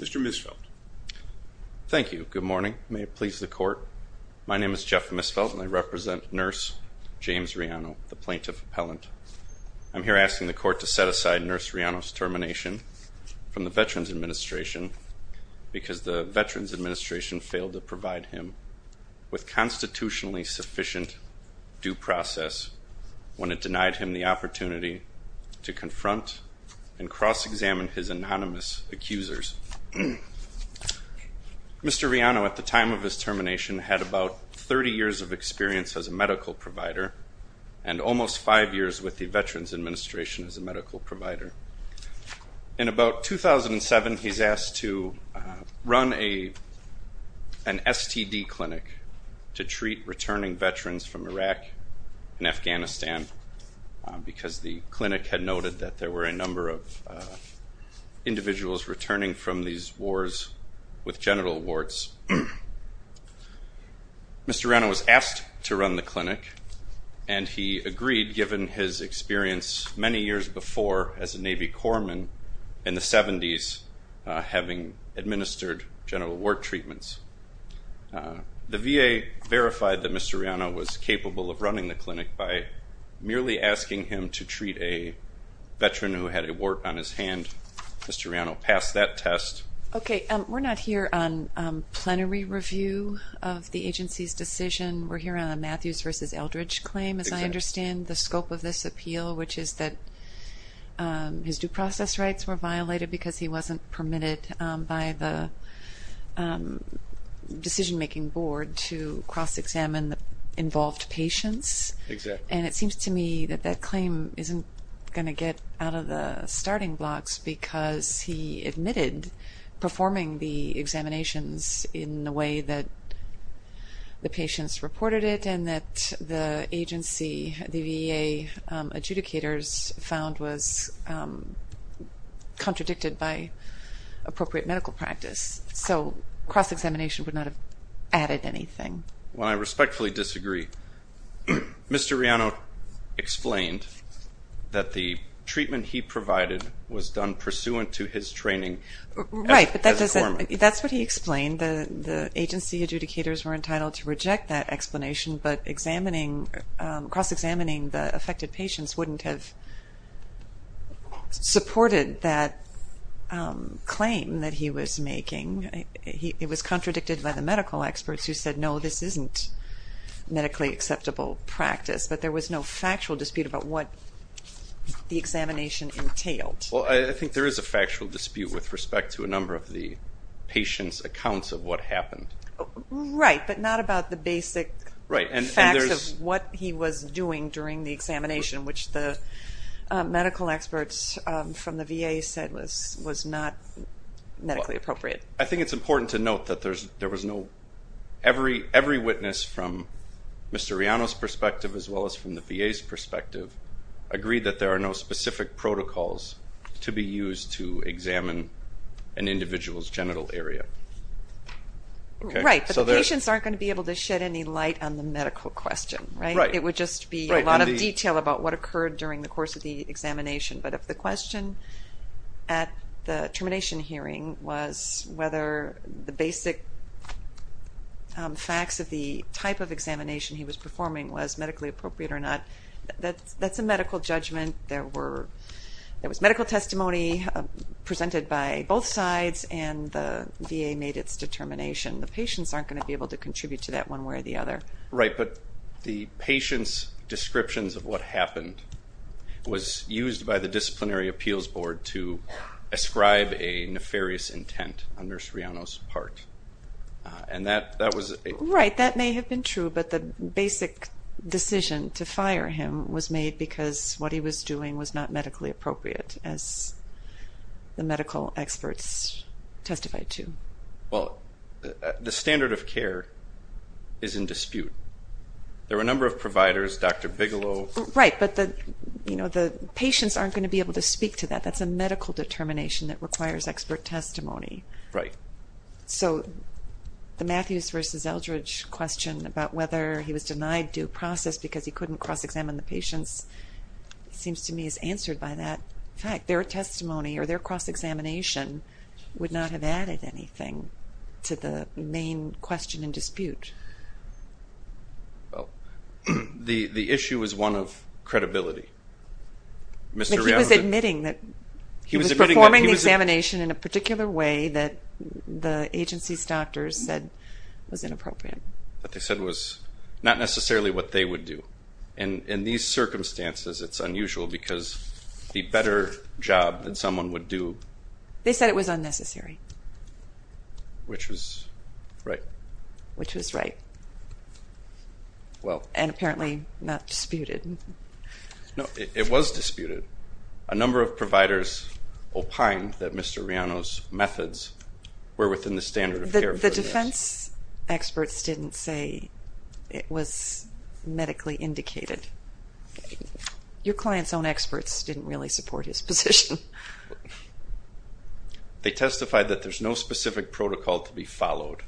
Mr. Misfeld Thank you. Good morning. May it please the court. My name is Jeff Misfeld and I represent nurse James Riano the plaintiff appellant I'm here asking the court to set aside nurse Riano's termination from the Veterans Administration Because the Veterans Administration failed to provide him with constitutionally sufficient due process When it denied him the opportunity to confront and cross-examine his anonymous accusers Mr. Riano at the time of his termination had about 30 years of experience as a medical provider and Almost five years with the Veterans Administration as a medical provider in about 2007 he's asked to run a an STD clinic to treat returning veterans from Iraq and Afghanistan because the clinic had noted that there were a number of Individuals returning from these wars with genital warts Mr. Riano was asked to run the clinic and He agreed given his experience many years before as a Navy Corpsman in the 70s having administered genital wart treatments The VA verified that Mr. Riano was capable of running the clinic by merely asking him to treat a Pass that test. Okay. We're not here on Plenary review of the agency's decision. We're here on a Matthews versus Eldridge claim as I understand the scope of this appeal which is that his due process rights were violated because he wasn't permitted by the Decision-making board to cross-examine the involved patients And it seems to me that that claim isn't gonna get out of the starting blocks because he admitted performing the examinations in the way that the patients reported it and that the agency the VA adjudicators found was Contradicted by Appropriate medical practice. So cross-examination would not have added anything when I respectfully disagree Mr. Riano explained That the treatment he provided was done pursuant to his training Right, but that doesn't that's what he explained the the agency adjudicators were entitled to reject that explanation, but examining cross-examining the affected patients wouldn't have Supported that Claim that he was making he it was contradicted by the medical experts who said no this isn't Medically acceptable practice, but there was no factual dispute about what? The examination entailed. Well, I think there is a factual dispute with respect to a number of the patients accounts of what happened right, but not about the basic right and there's what he was doing during the examination which the medical experts from the VA said was was not Medically appropriate. I think it's important to note that there's there was no Every witness from Mr. Riano's perspective as well as from the VA's perspective Agreed that there are no specific protocols to be used to examine an individual's genital area Right, so the patients aren't going to be able to shed any light on the medical question, right? It would just be a lot of detail about what occurred during the course of the examination. But if the question at the termination hearing was whether the basic Facts of the type of examination he was performing was medically appropriate or not. That's that's a medical judgment. There were There was medical testimony Presented by both sides and the VA made its determination The patients aren't going to be able to contribute to that one way or the other right, but the patient's descriptions of what happened was used by the disciplinary appeals board to Ascribe a nefarious intent under Sreano's part And that that was right that may have been true but the basic decision to fire him was made because what he was doing was not medically appropriate as the medical experts Testified to well the standard of care is in dispute There were a number of providers. Dr. Bigelow, right, but the you know, the patients aren't going to be able to speak to that That's a medical determination that requires expert testimony, right? So The Matthews versus Eldridge question about whether he was denied due process because he couldn't cross-examine the patients Seems to me is answered by that fact their testimony or their cross-examination Would not have added anything to the main question and dispute The the issue is one of credibility Mr. Rea was admitting that he was performing the examination in a particular way that the agency's doctors said Was inappropriate what they said was not necessarily what they would do and in these circumstances It's unusual because the better job that someone would do they said it was unnecessary Which was right which was right Well, and apparently not disputed No, it was disputed a number of providers Opine that mr. Riano's methods were within the standard of care the defense experts didn't say it was medically indicated Your clients own experts didn't really support his position They testified that there's no specific protocol to be followed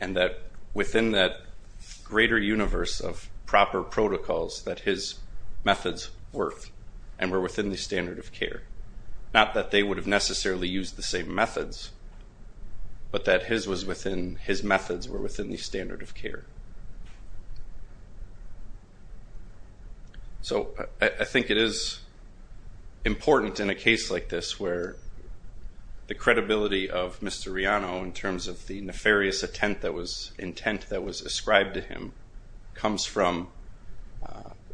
and that within that Greater universe of proper protocols that his methods worth and were within the standard of care Not that they would have necessarily used the same methods But that his was within his methods were within the standard of care So, I think it is important in a case like this where The credibility of mr. Riano in terms of the nefarious intent that was intent that was ascribed to him comes from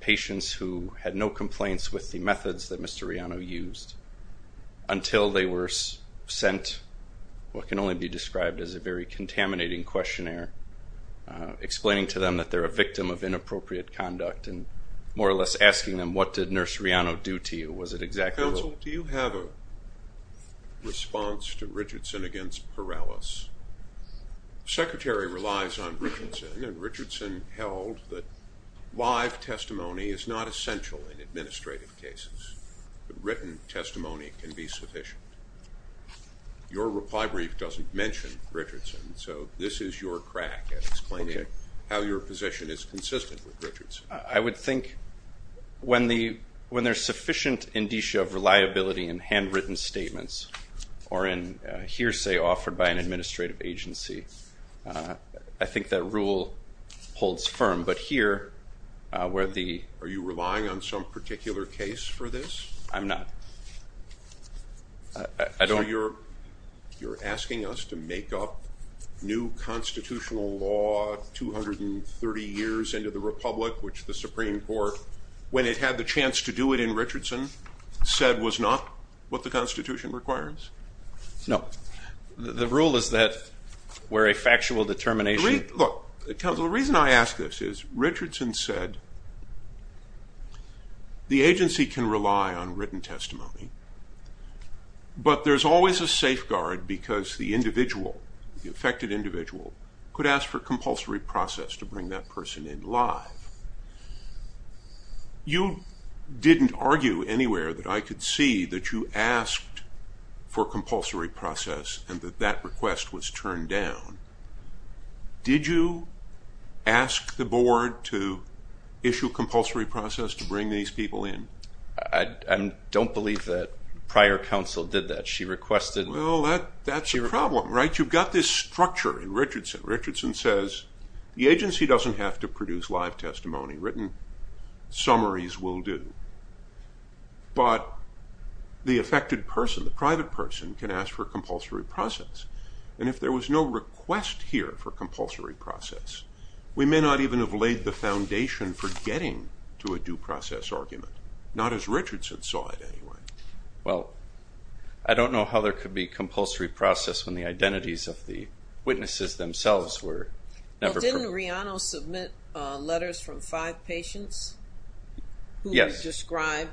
Patients who had no complaints with the methods that mr. Riano used Until they were sent what can only be described as a very contaminating questionnaire Explaining to them that they're a victim of inappropriate conduct and more or less asking them. What did nurse Riano do to you? Was it exactly? Response to Richardson against Perales Secretary relies on Richardson and Richardson held that live testimony is not essential in administrative cases Written testimony can be sufficient Your reply brief doesn't mention Richardson. So this is your crack at explaining how your position is consistent with Richardson I would think When the when there's sufficient indicia of reliability and handwritten statements or in hearsay offered by an administrative agency I think that rule holds firm but here Where the are you relying on some particular case for this? I'm not I don't you're you're asking us to make up new constitutional law 230 years into the Republic which the Supreme Court when it had the chance to do it in Richardson Said was not what the Constitution requires No, the rule is that We're a factual determination. Look it comes. The reason I ask this is Richardson said The agency can rely on written testimony But There's always a safeguard because the individual the affected individual could ask for compulsory process to bring that person in live You Didn't argue anywhere that I could see that you asked for compulsory process and that that request was turned down Did you ask the board to issue compulsory process to bring these people in? I Don't believe that prior counsel did that she requested. Well, that that's your problem, right? You've got this structure in Richardson Richardson says the agency doesn't have to produce live testimony written summaries will do but The affected person the private person can ask for compulsory process and if there was no request here for compulsory process We may not even have laid the foundation for getting to a due process argument not as Richardson saw it anyway, well, I Don't know how there could be compulsory process when the identities of the witnesses themselves were never didn't Riano submit letters from five patients Yes described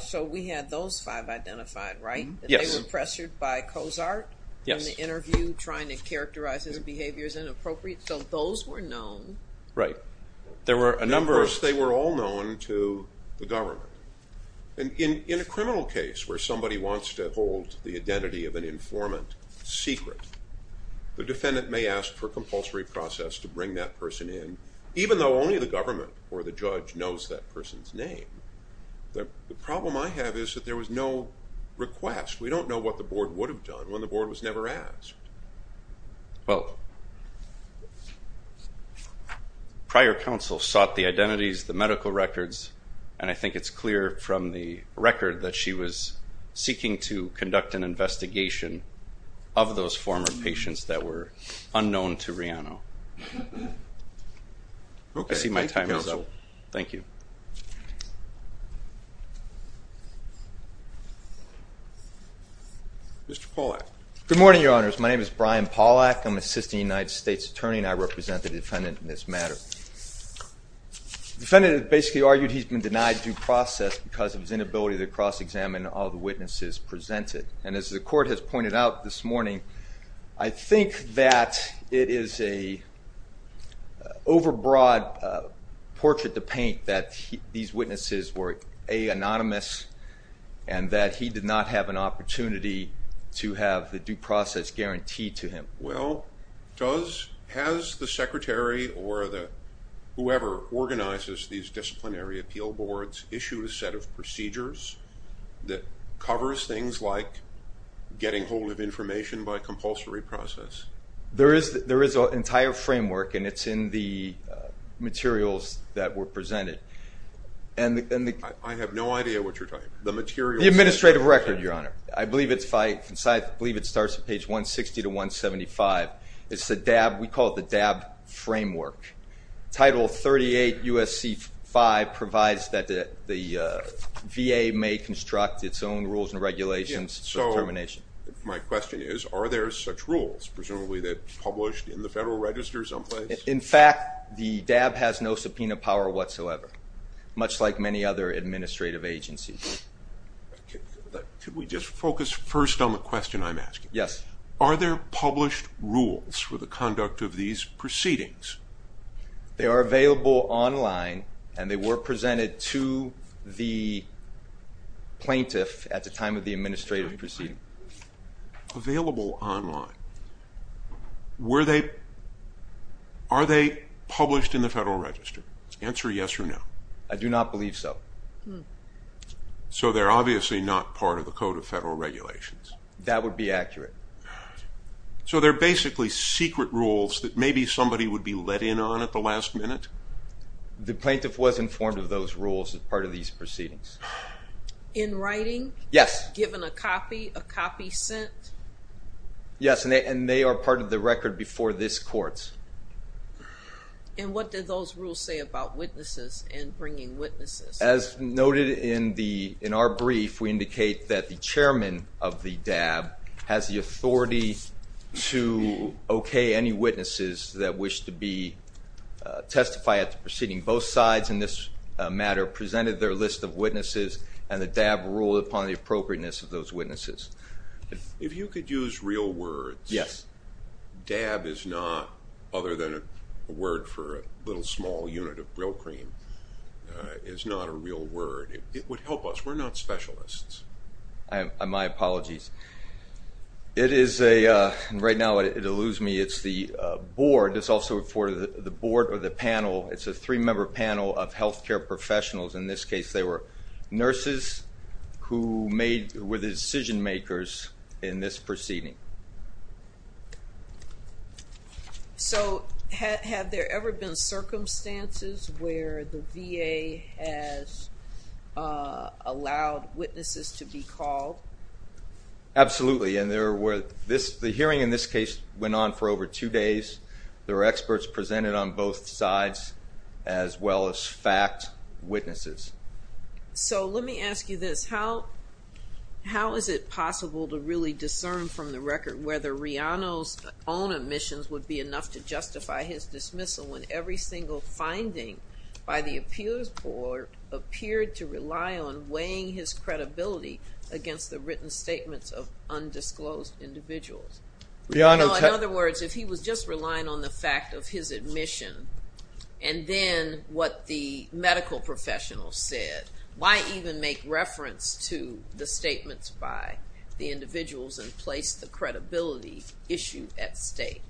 so we had those five identified, right? Yes pressured by Cozart Yes interview trying to characterize his behaviors and appropriate so those were known right there were a number of they were all known to the government and In in a criminal case where somebody wants to hold the identity of an informant secret The defendant may ask for compulsory process to bring that person in even though only the government or the judge knows that person's name The problem I have is that there was no Request we don't know what the board would have done when the board was never asked well Prior counsel sought the identities the medical records and I think it's clear from the record that she was Seeking to conduct an investigation of those former patients that were unknown to Riano Okay, see my time is oh, thank you Mr. Pollack good morning. Your honors. My name is Brian Pollack. I'm assisting United States Attorney and I represent the defendant in this matter Defendant basically argued he's been denied due process because of his inability to cross-examine all the witnesses Presented and as the court has pointed out this morning. I think that it is a Overbroad portrait to paint that these witnesses were a Anonymous and that he did not have an opportunity to have the due process guaranteed to him well does has the secretary or the whoever organizes these disciplinary appeal boards issued a set of procedures that covers things like Getting hold of information by compulsory process. There is there is an entire framework and it's in the Materials the administrative record your honor. I believe it's fight inside. I believe it starts at page 160 to 175 It's the DAB. We call it the DAB framework title 38 USC 5 provides that the VA may construct its own rules and regulations So termination my question is are there such rules presumably that published in the Federal Register someplace? In fact, the DAB has no subpoena power whatsoever much like many other administrative agencies Could we just focus first on the question I'm asking? Yes. Are there published rules for the conduct of these proceedings? they are available online and they were presented to the Plaintiff at the time of the administrative proceeding available online Were they? Are they published in the Federal Register answer? Yes or no. I do not believe so So they're obviously not part of the Code of Federal Regulations that would be accurate So they're basically secret rules that maybe somebody would be let in on at the last minute The plaintiff was informed of those rules as part of these proceedings In writing. Yes given a copy a copy sent Yes, and they and they are part of the record before this courts And what did those rules say about witnesses and bringing witnesses? As noted in the in our brief We indicate that the chairman of the DAB has the authority to Okay, any witnesses that wish to be Testified at the proceeding both sides in this matter presented their list of witnesses and the DAB ruled upon the appropriateness of those witnesses If you could use real words, yes DAB is not other than a word for a little small unit of real cream Is not a real word. It would help us. We're not specialists. I my apologies It is a right now it alludes me. It's the board It's also for the board or the panel. It's a three-member panel of health care professionals in this case. They were nurses Who made with decision makers in this proceeding? So have there ever been circumstances where the VA has Allowed witnesses to be called Absolutely, and there were this the hearing in this case went on for over two days There are experts presented on both sides as well as fact witnesses So let me ask you this how? How is it possible to really discern from the record whether Rihanna's own admissions would be enough to justify his Dismissal when every single finding by the Appeals Board Appeared to rely on weighing his credibility against the written statements of undisclosed individuals Rihanna in other words if he was just relying on the fact of his admission and What the medical professionals said why even make reference to the statements by the Individuals and place the credibility issue at stake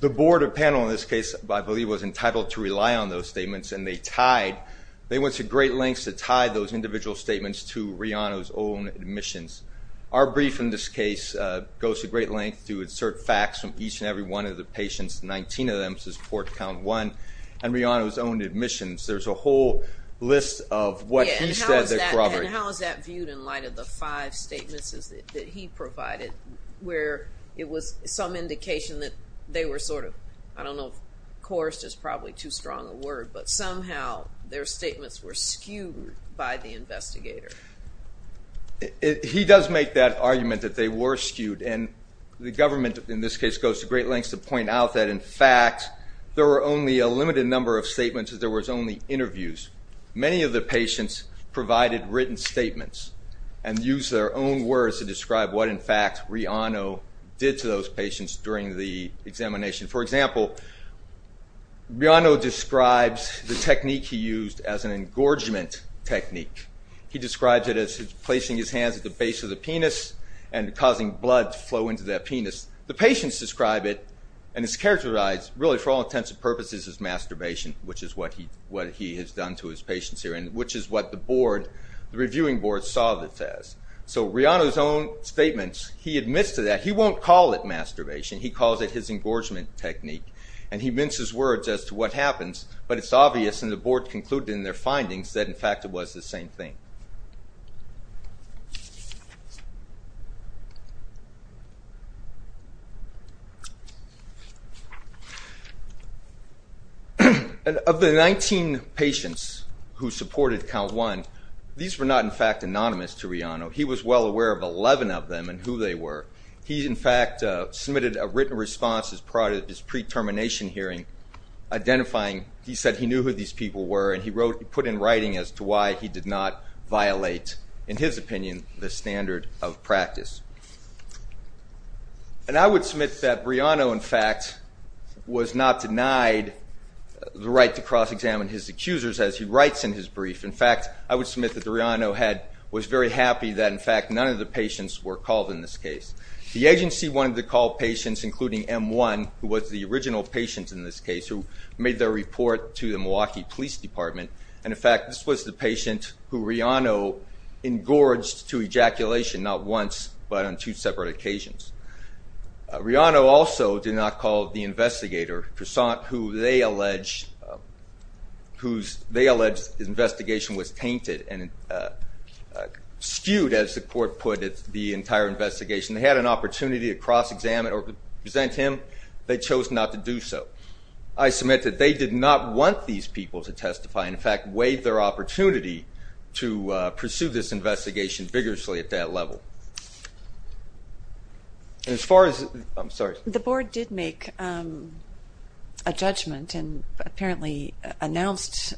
the board of panel in this case I believe was entitled to rely on those statements and they tied They went to great lengths to tie those individual statements to Rihanna's own admissions our brief in this case Goes to great length to insert facts from each and every one of the patients 19 of them says port count one and Rihanna was owned admissions. There's a whole list of what he said How is that viewed in light of the five statements is that he provided where it was some indication that they were sort of I don't know of course just probably too strong a word, but somehow their statements were skewed by the investigator He does make that argument that they were skewed and The government in this case goes to great lengths to point out that in fact There were only a limited number of statements as there was only interviews many of the patients provided written statements and Use their own words to describe what in fact Rihanna did to those patients during the examination for example Rihanna describes the technique he used as an engorgement technique He describes it as placing his hands at the base of the penis and Causing blood flow into that penis the patients describe it and it's characterized really for all intents and purposes as masturbation Which is what he what he has done to his patients here And which is what the board the reviewing board saw this as so Rihanna's own statements. He admits to that He won't call it masturbation He calls it his engorgement technique, and he mints his words as to what happens But it's obvious and the board concluded in their findings that in fact it was the same thing And of the 19 patients who supported count one these were not in fact anonymous to Rihanna He was well aware of 11 of them and who they were he in fact submitted a written response as part of his pre-termination hearing Identifying he said he knew who these people were and he wrote he put in writing as to why he did not Violate in his opinion the standard of practice And I would submit that Rihanna in fact Was not denied The right to cross-examine his accusers as he writes in his brief in fact I would submit that the Rihanna head was very happy that in fact none of the patients were called in this case The agency wanted to call patients including m1 who was the original patient in this case who made their report to the Milwaukee Police Department and in fact this was the patient who Rihanna Engorged to ejaculation not once but on two separate occasions Rihanna also did not call the investigator croissant who they allege whose they alleged investigation was tainted and Skewed as the court put it the entire investigation they had an opportunity to cross-examine or present him They chose not to do so. I Submitted they did not want these people to testify in fact waived their opportunity to pursue this investigation vigorously at that level As far as I'm sorry the board did make a judgment and apparently Announced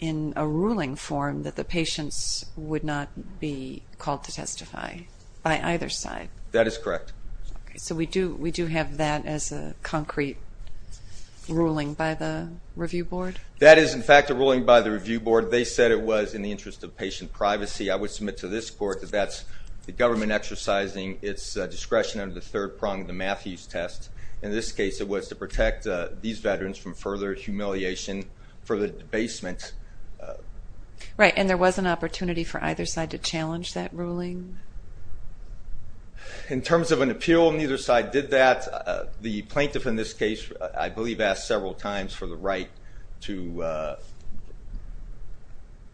in a ruling form that the patients would not be called to testify By either side that is correct, so we do we do have that as a concrete Ruling by the review board that is in fact a ruling by the review board They said it was in the interest of patient privacy I would submit to this court that that's the government exercising its In this case it was to protect these veterans from further humiliation for the debasement Right and there was an opportunity for either side to challenge that ruling In terms of an appeal neither side did that the plaintiff in this case I believe asked several times for the right to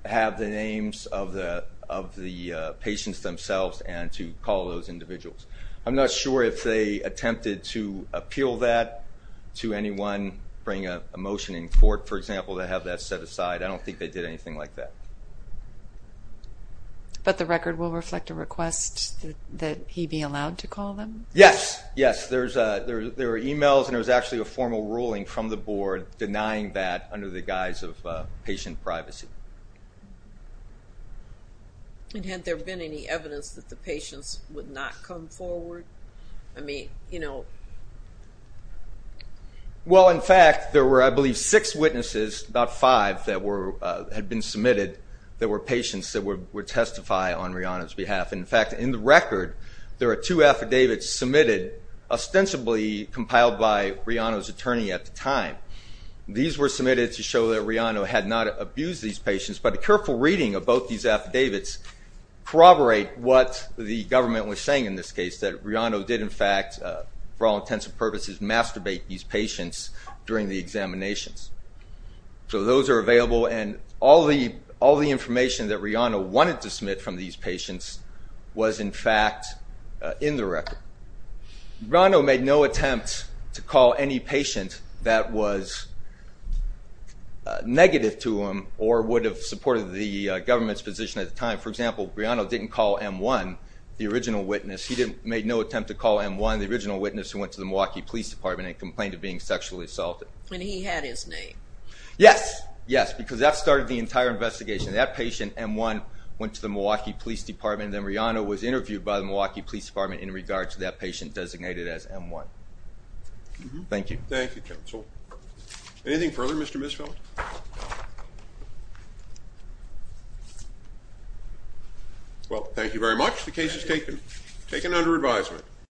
Have the names of the of the patients themselves and to call those individuals I'm not sure if they attempted to appeal that To anyone bring a motion in court for example to have that set aside. I don't think they did anything like that But the record will reflect a request that he be allowed to call them yes Yes There's a there were emails and it was actually a formal ruling from the board denying that under the guise of patient privacy And Had there been any evidence that the patients would not come forward I mean, you know Well in fact there were I believe six witnesses about five that were had been submitted There were patients that were testify on Rihanna's behalf in fact in the record there are two affidavits submitted ostensibly compiled by Rihanna's attorney at the time These were submitted to show that Rihanna had not abused these patients, but a careful reading of both these affidavits Corroborate what the government was saying in this case that Rihanna did in fact for all intents and purposes masturbate these patients during the examinations So those are available and all the all the information that Rihanna wanted to submit from these patients was in fact in the record Rihanna made no attempt to call any patient that was Negative to him or would have supported the government's position at the time For example Rihanna didn't call m1 the original witness he didn't made no attempt to call m1 the original witness who went to the Milwaukee Police Department and complained of being Sexually assaulted when he had his name. Yes. Yes, because that started the entire investigation that patient m1 Went to the Milwaukee Police Department then Rihanna was interviewed by the Milwaukee Police Department in regards to that patient designated as m1 Thank you. Thank you counsel Anything further, Mr. Misfeld? Well, thank you very much the case is taken taken under advisement